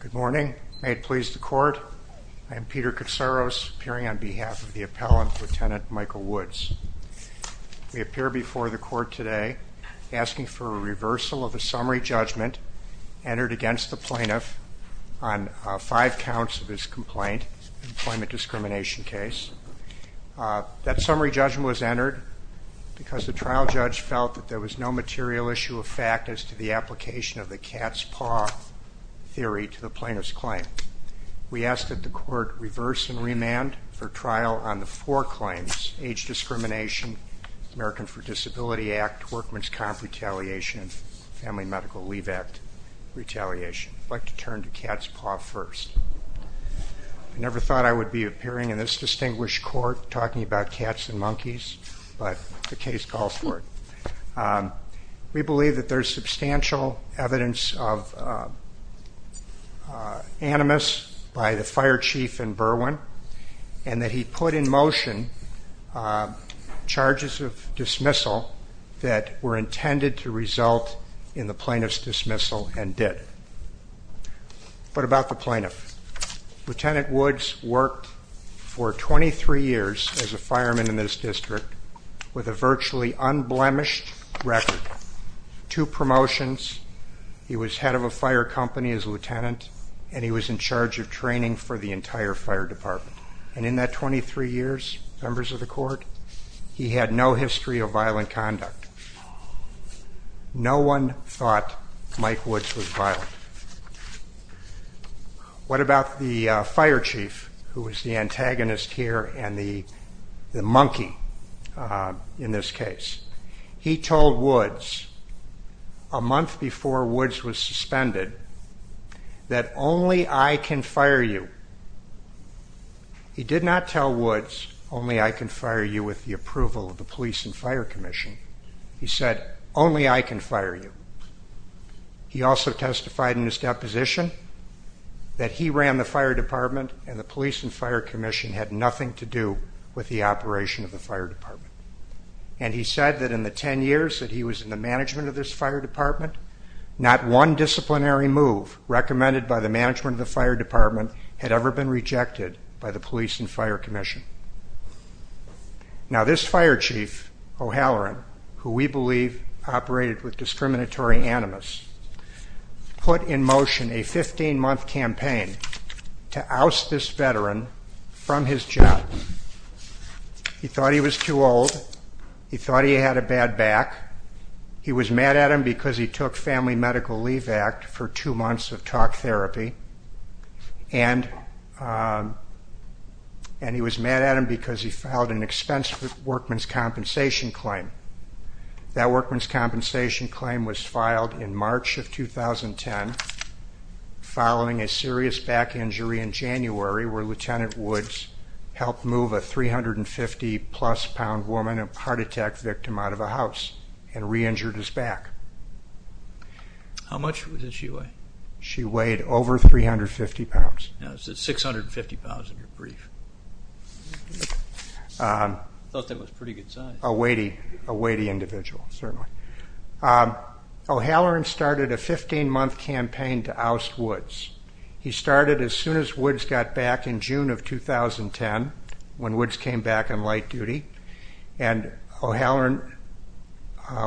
Good morning. May it please the court. I am Peter Katsaros, appearing on behalf of the appellant, Lt. Michael Woods. We appear before the court today asking for a reversal of the summary judgment entered against the plaintiff on five counts of his complaint, employment discrimination case. That summary judgment was entered because the trial judge felt that there was no material issue of fact as to the application of the cat's paw theory to the plaintiff's claim. We ask that the court reverse and remand for trial on the four claims, age discrimination, American for Disability Act, workman's comp retaliation, Family Medical Leave Act retaliation. I'd like to turn to cat's paw first. I never thought I would be appearing in this distinguished court talking about cats and monkeys, but the case calls for it. We believe that there's substantial evidence of animus by the fire chief in Berwyn and that he put in motion charges of dismissal that were intended to result in the plaintiff's dismissal and did. What about the plaintiff? Lt. Woods worked for 23 years as a fireman in this district with a virtually unblemished record. Two promotions, he was head of a fire company as a lieutenant and he was in charge of training for the entire fire department. And in that 23 years, members of the court, he had no history of violent conduct. No one thought Mike Woods was violent. What about the fire chief who was the antagonist here and the monkey in this case? He told Woods a month before Woods was suspended that only I can fire you. He did not tell Woods only I can fire you with the approval of the police and fire commission. He said only I can fire you. He also testified in his deposition that he ran the fire department and the police and fire commission had nothing to do with the operation of the fire department. And he said that in the 10 years that he was in the management of this fire department, not one disciplinary move recommended by the management of the fire department had ever been we believe operated with discriminatory animus, put in motion a 15-month campaign to oust this veteran from his job. He thought he was too old. He thought he had a bad back. He was mad at him because he took family medical leave act for two months of talk therapy. And he was mad at him because he filed an expensive workman's compensation claim. That workman's compensation claim was filed in March of 2010 following a serious back injury in January where Lieutenant Woods helped move a 350 plus pound woman a heart attack victim out of a house and re-injured his back. How much did she weigh? She weighed over 350 pounds. 650 pounds in your brief. I thought that was pretty good size. A weighty individual, certainly. O'Halloran started a 15-month campaign to oust Woods. He started as soon as Woods got back in June of 2010 when Woods came back on light duty. And O'Halloran,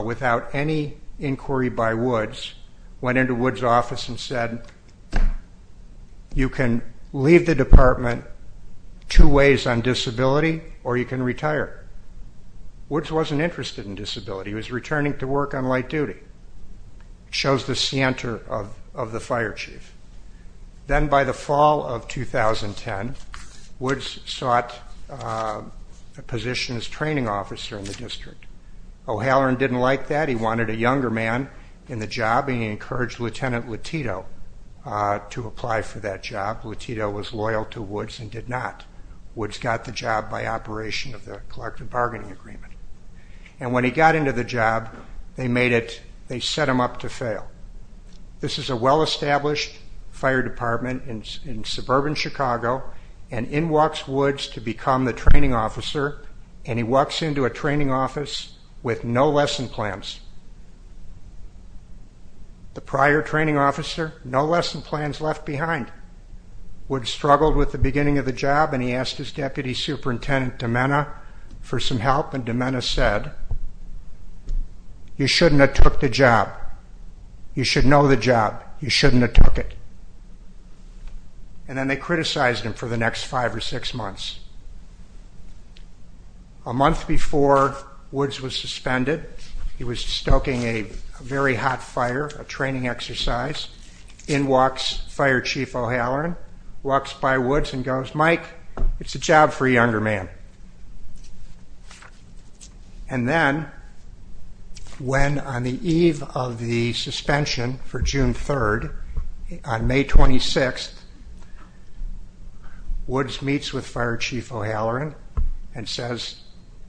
without any inquiry by Woods, went into Woods' office and said, you can leave the department two ways on disability or you can retire. Woods wasn't interested in disability. He was returning to work on light duty. Shows the center of the fire chief. Then by the fall of 2010, Woods sought a position as training officer in the district. O'Halloran didn't like that. He wanted a younger man in the job and he encouraged Lieutenant Letito to apply for that job. Letito was loyal to Woods and did not. Woods got the job by operation of the collective bargaining agreement. And when he got into the job, they made it, they set him up to fail. This is a well-established fire department in suburban Chicago. And in walks Woods to become the training officer. And he walks into a training office with no lesson plans. The prior training officer, no lesson plans left behind. Woods struggled with the beginning of the job and he asked his deputy superintendent, Domena, for some help. And Domena said, you shouldn't have took the job. You should know the job. And then they criticized him for the next five or six months. A month before Woods was suspended, he was stoking a very hot fire, a training exercise. In walks fire chief O'Halloran, walks by Woods and goes, Mike, it's a job for a younger man. And then when on the eve of the 26th, Woods meets with fire chief O'Halloran and says,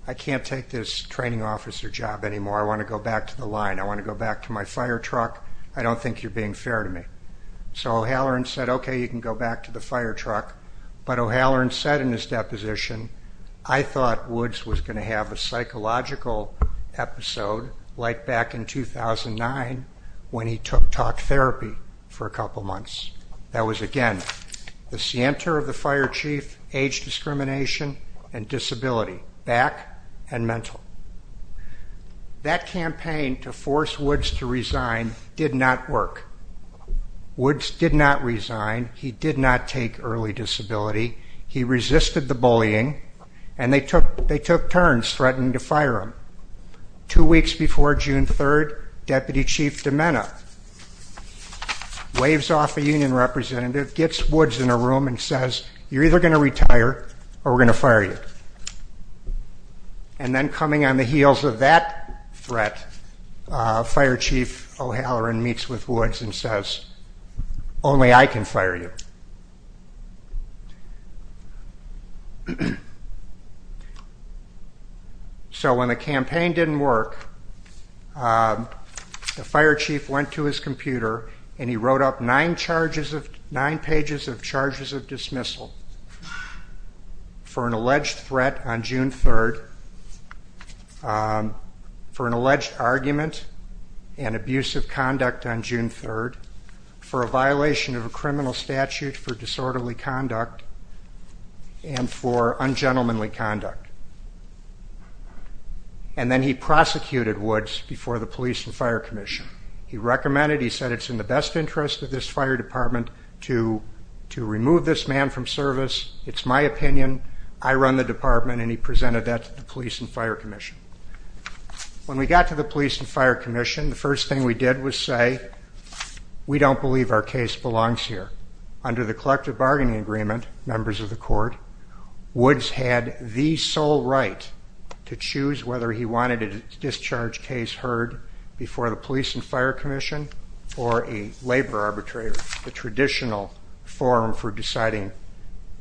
I can't take this training officer job anymore. I want to go back to the line. I want to go back to my fire truck. I don't think you're being fair to me. So O'Halloran said, okay, you can go back to the fire truck. But O'Halloran said in his deposition, I thought Woods was going to have a psychological episode like back in 2009 when he took talk therapy for a couple months. That was again, the center of the fire chief, age discrimination and disability, back and mental. That campaign to force Woods to resign did not work. Woods did not resign. He did not take early disability. He resisted the bullying and they took turns threatening to fire him. Two weeks before June 3rd, deputy chief Domena waves off a union representative, gets Woods in a room and says, you're either going to retire or we're going to fire you. And then coming on the heels of that threat, fire chief O'Halloran meets with him. So when the campaign didn't work, the fire chief went to his computer and he wrote up nine pages of charges of dismissal for an alleged threat on June 3rd, for an alleged argument and abuse of conduct on June 3rd, for a violation of a criminal statute for disorderly conduct, and for ungentlemanly conduct. And then he prosecuted Woods before the police and fire commission. He recommended, he said it's in the best interest of this fire department to remove this man from service. It's my opinion. I run the department and he presented that to the police and fire commission. When we got to the police and fire commission, the first thing we did was say, we don't believe our case belongs here. Under the collective bargaining agreement, members of the Wood's had the sole right to choose whether he wanted a discharge case heard before the police and fire commission or a labor arbitrator, the traditional forum for deciding.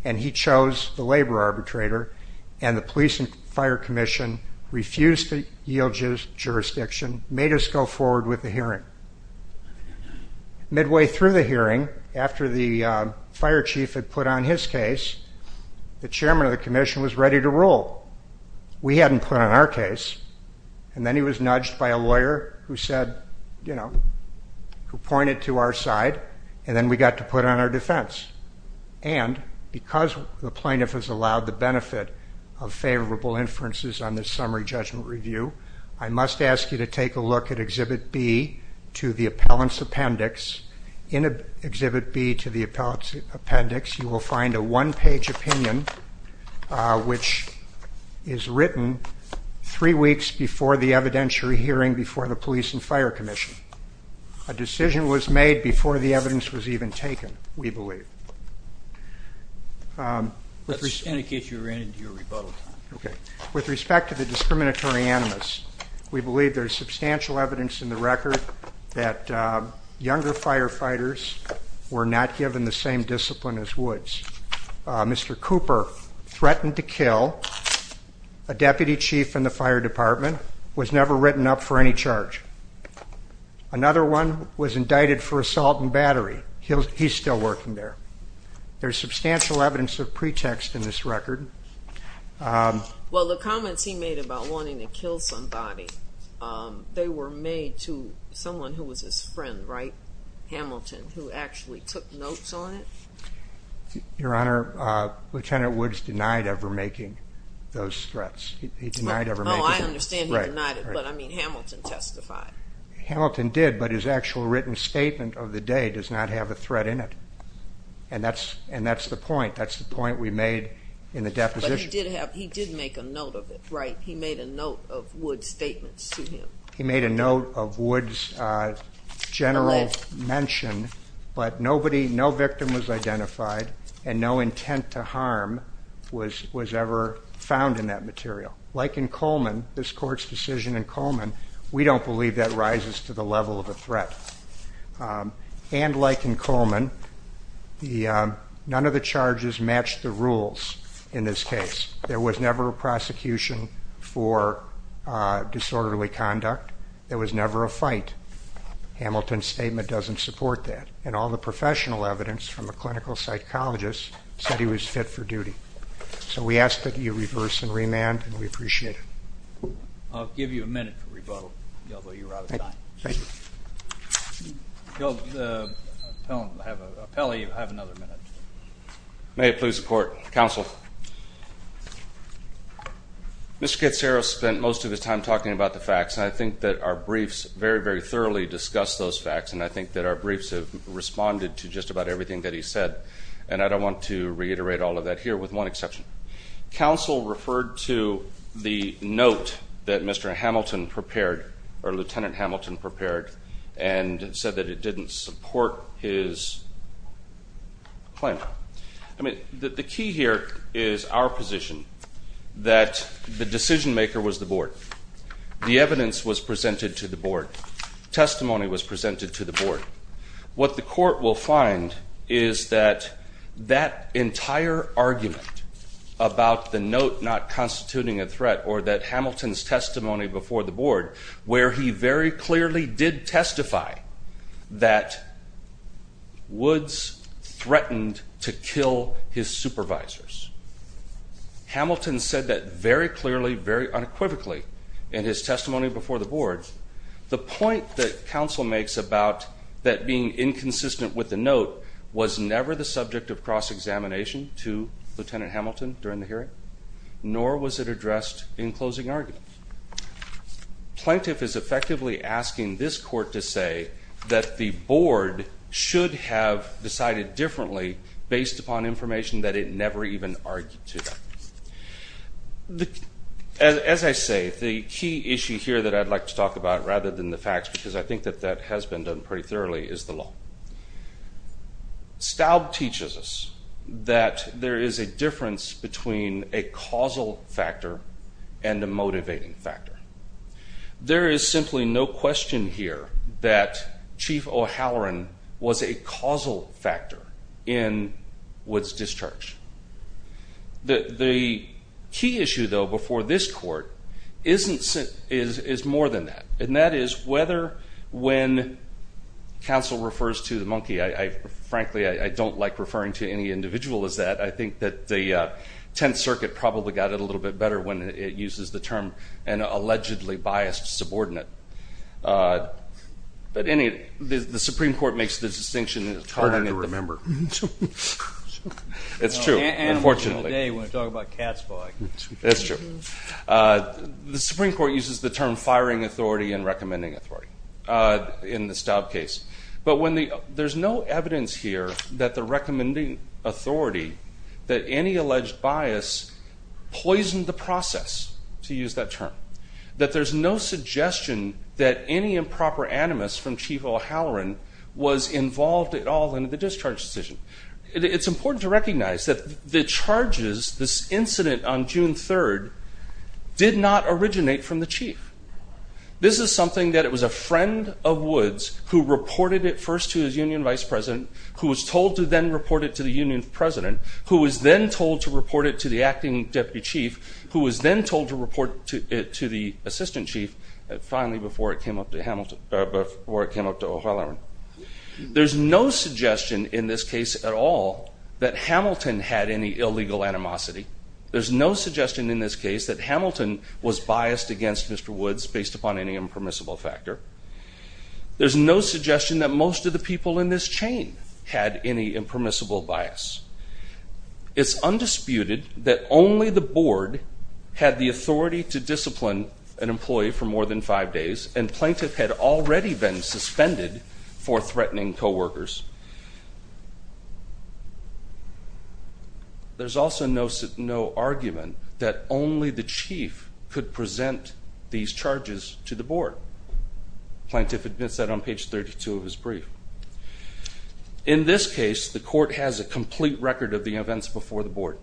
And he chose the labor arbitrator and the police and fire commission refused to yield jurisdiction, made us go forward with the hearing. Midway through the hearing, after the fire chief had put on his case, the chairman of the commission was ready to rule. We hadn't put on our case. And then he was nudged by a lawyer who said, you know, who pointed to our side, and then we got to put on our defense. And because the plaintiff has allowed the benefit of favorable inferences on this summary judgment review, I must ask you to take a look at exhibit B to the appellant's appendix. In exhibit B to the appellant's appendix, you will find a one-page opinion, which is written three weeks before the evidentiary hearing before the police and fire commission. A decision was made before the evidence was even taken, we believe. With respect to the discriminatory animus, we believe there is substantial evidence in the discipline as Woods. Mr. Cooper threatened to kill a deputy chief in the fire department, was never written up for any charge. Another one was indicted for assault and battery. He's still working there. There's substantial evidence of pretext in this record. Well, the comments he made about wanting to kill somebody, they were made to someone who was his friend, right? Hamilton, who actually took notes on it? Your Honor, Lieutenant Woods denied ever making those threats. He denied ever making those threats. Oh, I understand he denied it, but I mean Hamilton testified. Hamilton did, but his actual written statement of the day does not have a threat in it. And that's the point. That's the point we made in the deposition. But he did make a note of it, right? He made a note of Woods' statements to him. He made a note of Woods' general mention, but nobody, no victim was identified and no intent to harm was ever found in that material. Like in Coleman, this court's decision in Coleman, we don't believe that rises to the level of a threat. And like in Coleman, none of the charges matched the rules in this case. There was never a prosecution for disorderly conduct. There was never a fight. Hamilton's statement doesn't support that. And all the professional evidence from a clinical psychologist said he was fit for duty. So we ask that you reverse and remand and we appreciate it. I'll give you a minute for rebuttal, although you're out of time. Thank you. You'll have another minute. May it please the court. Counsel. Mr. Katsura spent most of his time talking about the facts and I think that our briefs very, very thoroughly discussed those facts and I think that our briefs have responded to just about everything that he said. And I don't want to reiterate all of that here with one exception. Counsel referred to the note that Mr. Hamilton prepared, or Lieutenant Hamilton prepared, and said that it didn't support his claim. I mean, the key here is our position that the decision maker was the board. The evidence was presented to the board. Testimony was presented to the board. What the court will find is that that entire argument about the note not constituting a threat or that Hamilton's testimony did testify that Woods threatened to kill his supervisors. Hamilton said that very clearly, very unequivocally in his testimony before the board. The point that counsel makes about that being inconsistent with the note was never the subject of cross-examination to Lieutenant Hamilton during the hearing, nor was it addressed in closing argument. Plaintiff is effectively asking this court to say that the board should have decided differently based upon information that it never even argued to. As I say, the key issue here that I'd like to talk about rather than the facts, because I think that that has been done pretty thoroughly, is the law. Staub teaches us that there is a difference between a causal factor and a motivating factor. There is simply no question here that Chief O'Halloran was a causal factor in Woods' discharge. The key issue, though, before this court is more than that, and that is whether when counsel refers to the monkey, I frankly I don't like referring to any individual as that. I think that the Tenth Circuit probably got it a little bit better when it uses the term an allegedly biased subordinate, but the Supreme Court makes the distinction. It's hard to remember. It's true, unfortunately. The Supreme Court uses the term firing authority and recommending authority in the Staub case, but there's no evidence here that the recommending authority that any alleged bias poisoned the process, to use that term. That there's no suggestion that any improper animus from Chief O'Halloran was involved at all in the discharge decision. It's important to recognize that the charges, this incident on June 3rd, did not originate from the Chief. This is something that it was a friend of Woods who reported it first to his union vice president, who was told to then report it to the union president, who was then told to report it to the acting deputy chief, who was then told to report it to the assistant chief, finally before it came up to Hamilton, before it came up to O'Halloran. There's no suggestion in this case at all that Hamilton had any illegal animosity. There's no suggestion in this case that Hamilton was biased against Mr. Woods based upon any impermissible factor. There's no suggestion that most of the people in this chain had any impermissible bias. It's undisputed that only the board had the authority to discipline an employee for more than five days, and plaintiff had already been suspended for threatening co-workers. There's also no argument that only the chief could present these charges to the board. Plaintiff admits that on page 32 of his brief. In this case, the court has a complete record of the events before the board.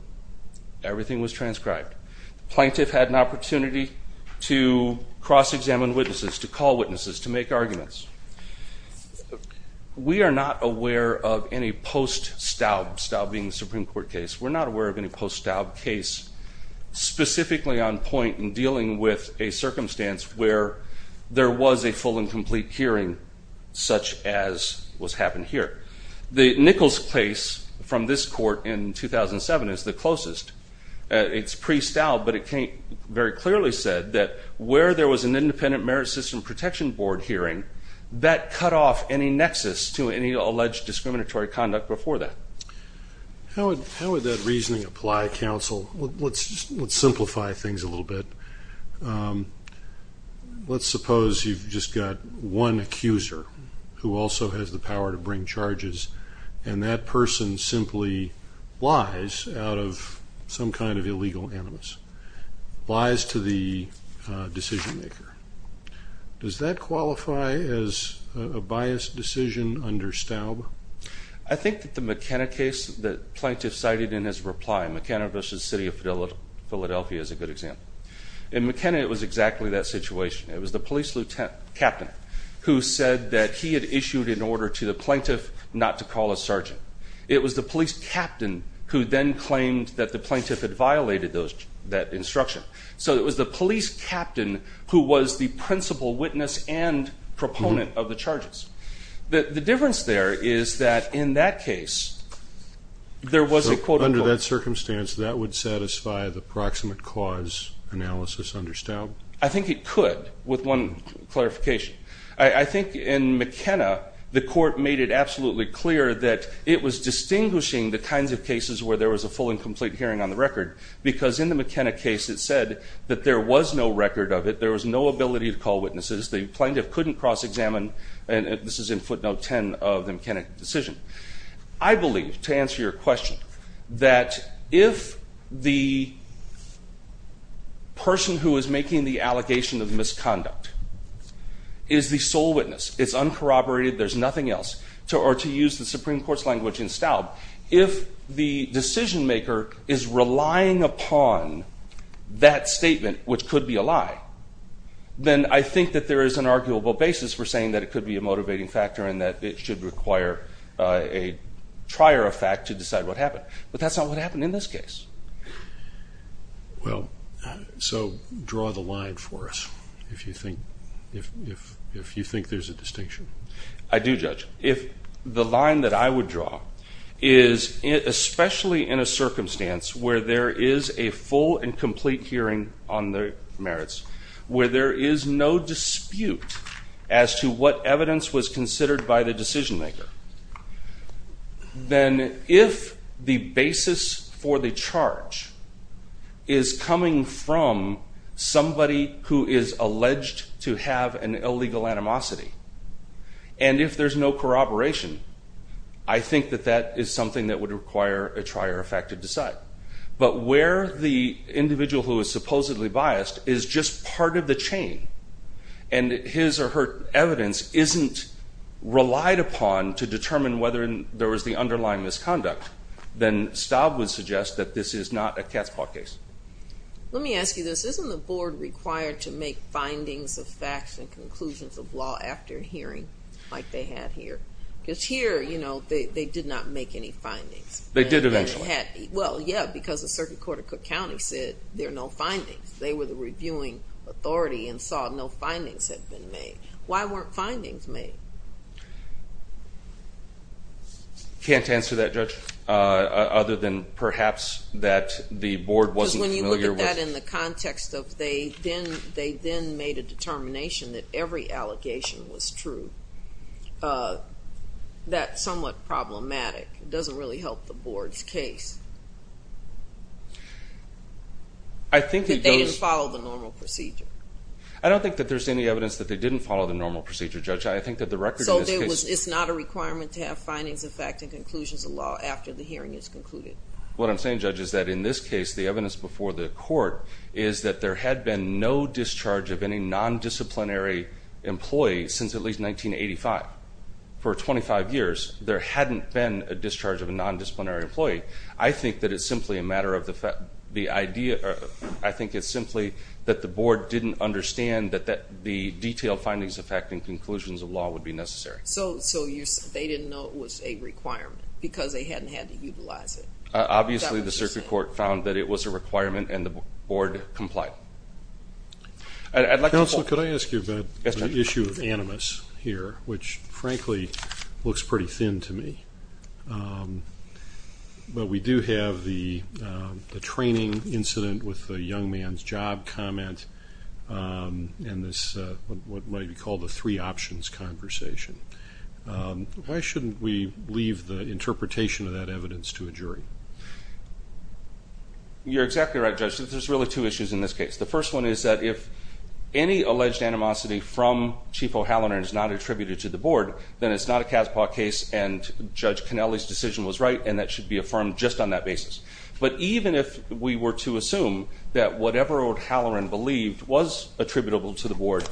Everything was transcribed. Plaintiff had an opportunity to cross-examine witnesses, to call witnesses, to make arguments. We are not aware of any post-Staub, Staub being the Supreme Court case, we're not aware of any post-Staub case specifically on point in dealing with a circumstance where there was a full and complete hearing such as what's happened here. The Nichols case from this court in 2007 is the closest. It's pre-Staub, but it very clearly said that where there was an independent merit system protection board hearing, that cut off any nexus to any alleged discriminatory conduct before that. How would that reasoning apply counsel? Let's simplify things a little bit. Let's suppose you've just got one accuser who also has the power to bring charges, and that person simply lies out of some kind of illegal animus. Lies to the decision maker. Does that qualify as a biased decision under Staub? I think that the McKenna case that plaintiff cited in his reply, McKenna v. City of Philadelphia is a good example. In McKenna it was exactly that situation. It was the police lieutenant captain who said that he had issued an order to the plaintiff not to call a sergeant. It was the police captain who then claimed that the plaintiff had violated that instruction. So it was the police captain who was the principal witness and proponent of the charges. The difference there is that in that case, there was a quote-unquote... Under that circumstance that would satisfy the proximate cause analysis under Staub? I think it could with one clarification. I think in McKenna the court made it absolutely clear that it was distinguishing the kinds of it said that there was no record of it. There was no ability to call witnesses. The plaintiff couldn't cross-examine, and this is in footnote 10 of the McKenna decision. I believe, to answer your question, that if the person who is making the allegation of misconduct is the sole witness, it's uncorroborated, there's nothing else, or to use the Supreme Court's language in Staub, if the decision-maker is relying upon that statement, which could be a lie, then I think that there is an arguable basis for saying that it could be a motivating factor and that it should require a trier effect to decide what happened. But that's not what happened in this case. Well, so draw the line for us if you think there's a distinction. I do, Judge. If the line that I would draw is, especially in a circumstance where there is a full and complete hearing on the merits, where there is no dispute as to what evidence was considered by the decision-maker, then if the basis for the charge is coming from somebody who is alleged to have an illegal animosity, and if there's no corroboration, I think that that is something that would require a trier effect to decide. But where the individual who is supposedly biased is just part of the chain, and his or her evidence isn't relied upon to determine whether there was the underlying misconduct, then Staub would suggest that this is not a cat's paw case. Let me ask you this. Isn't the Board required to make findings of facts and conclusions of law after hearing like they had here? Because here, you know, they did not make any findings. They did eventually. Well, yeah, because the Circuit Court of Cook County said there are no findings. They were the reviewing authority and saw no findings had been made. Why weren't findings made? I can't answer that, Judge, other than perhaps that the Board wasn't familiar with... Because when you look at that in the context of they then made a determination that every allegation was true, that's somewhat problematic. It doesn't really help the Board's case. I think it does... That they didn't follow the normal procedure. I don't think that there's any evidence that they didn't follow the normal procedure, Judge. So it's not a requirement to have findings of fact and conclusions of law after the hearing is concluded? What I'm saying, Judge, is that in this case, the evidence before the Court is that there had been no discharge of any non-disciplinary employee since at least 1985. For 25 years, there hadn't been a discharge of a non-disciplinary employee. I think that it's simply a matter of the fact... I think it's simply that the Board didn't understand that the detailed findings of fact and conclusions of law would be necessary. So they didn't know it was a requirement because they hadn't had to utilize it? Obviously, the Circuit Court found that it was a requirement and the Board complied. Counsel, could I ask you about the issue of animus here, which frankly looks pretty thin to me. But we do have the training incident with the young man's job comment and this, what might be called a three options conversation. Why shouldn't we leave the interpretation of that evidence to a jury? You're exactly right, Judge. There's really two issues in this case. The first one is that if any alleged animosity from Chief O'Halloran is not attributed to the Board, then it's not a CASPA case and Judge Cannelli's decision was right and that should be affirmed just on that basis. But even if we were to assume that whatever O'Halloran believed was attributable to the Board,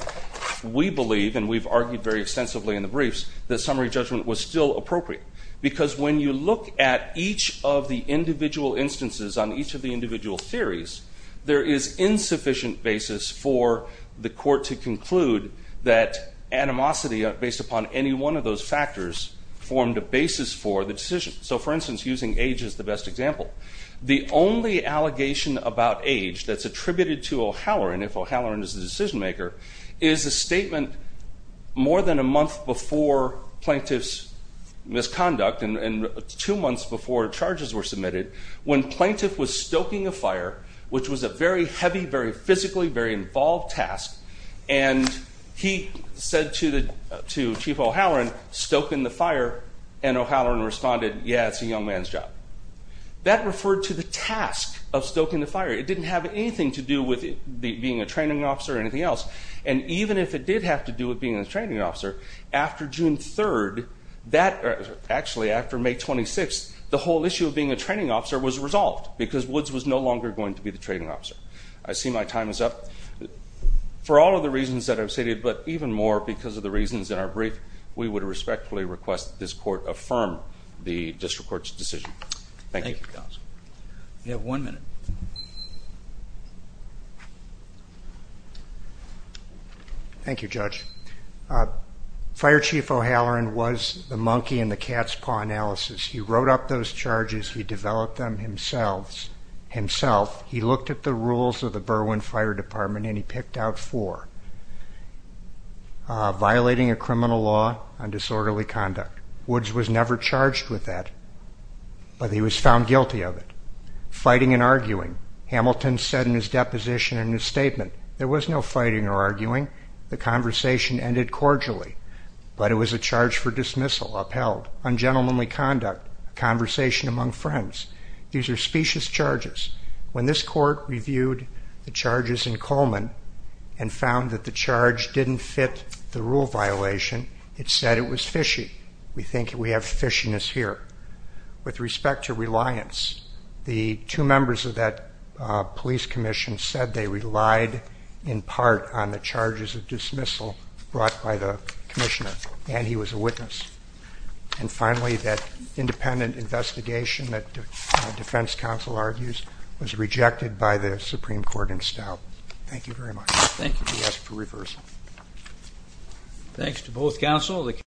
we believe, and we've argued very extensively in the briefs, that summary judgment was still appropriate. Because when you look at each of the individual instances on each of the individual theories, there is insufficient basis for the Court to believe any one of those factors formed a basis for the decision. So for instance, using age as the best example. The only allegation about age that's attributed to O'Halloran, if O'Halloran is the decision maker, is a statement more than a month before plaintiff's misconduct and two months before charges were submitted, when plaintiff was stoking a fire, which was a very O'Halloran, stoking the fire, and O'Halloran responded, yeah, it's a young man's job. That referred to the task of stoking the fire. It didn't have anything to do with being a training officer or anything else. And even if it did have to do with being a training officer, after June 3rd, actually after May 26th, the whole issue of being a training officer was resolved because Woods was no longer going to be the training officer. I see my time is up. For all of the reasons that I've stated, but even more because of the reasons in our brief, we would respectfully request that this court affirm the district court's decision. Thank you. We have one minute. Thank you, Judge. Fire Chief O'Halloran was the monkey in the cat's paw analysis. He wrote up those charges. He developed them himself. He looked at the rules of the Berwyn Fire Department and he picked out four. Violating a criminal law on disorderly conduct. Woods was never charged with that, but he was found guilty of it. Fighting and arguing. Hamilton said in his deposition in his statement, there was no fighting or arguing. The conversation ended cordially, but it was a charge for dismissal, upheld. Ungentlemanly conduct. Conversation among friends. These are specious the charges in Coleman and found that the charge didn't fit the rule violation. It said it was fishy. We think we have fishiness here. With respect to reliance, the two members of that police commission said they relied in part on the charges of dismissal brought by the commissioner, and he was a witness. And finally, that independent investigation that Supreme Court installed. Thank you very much. Thank you for reversal. Thanks to both counsel.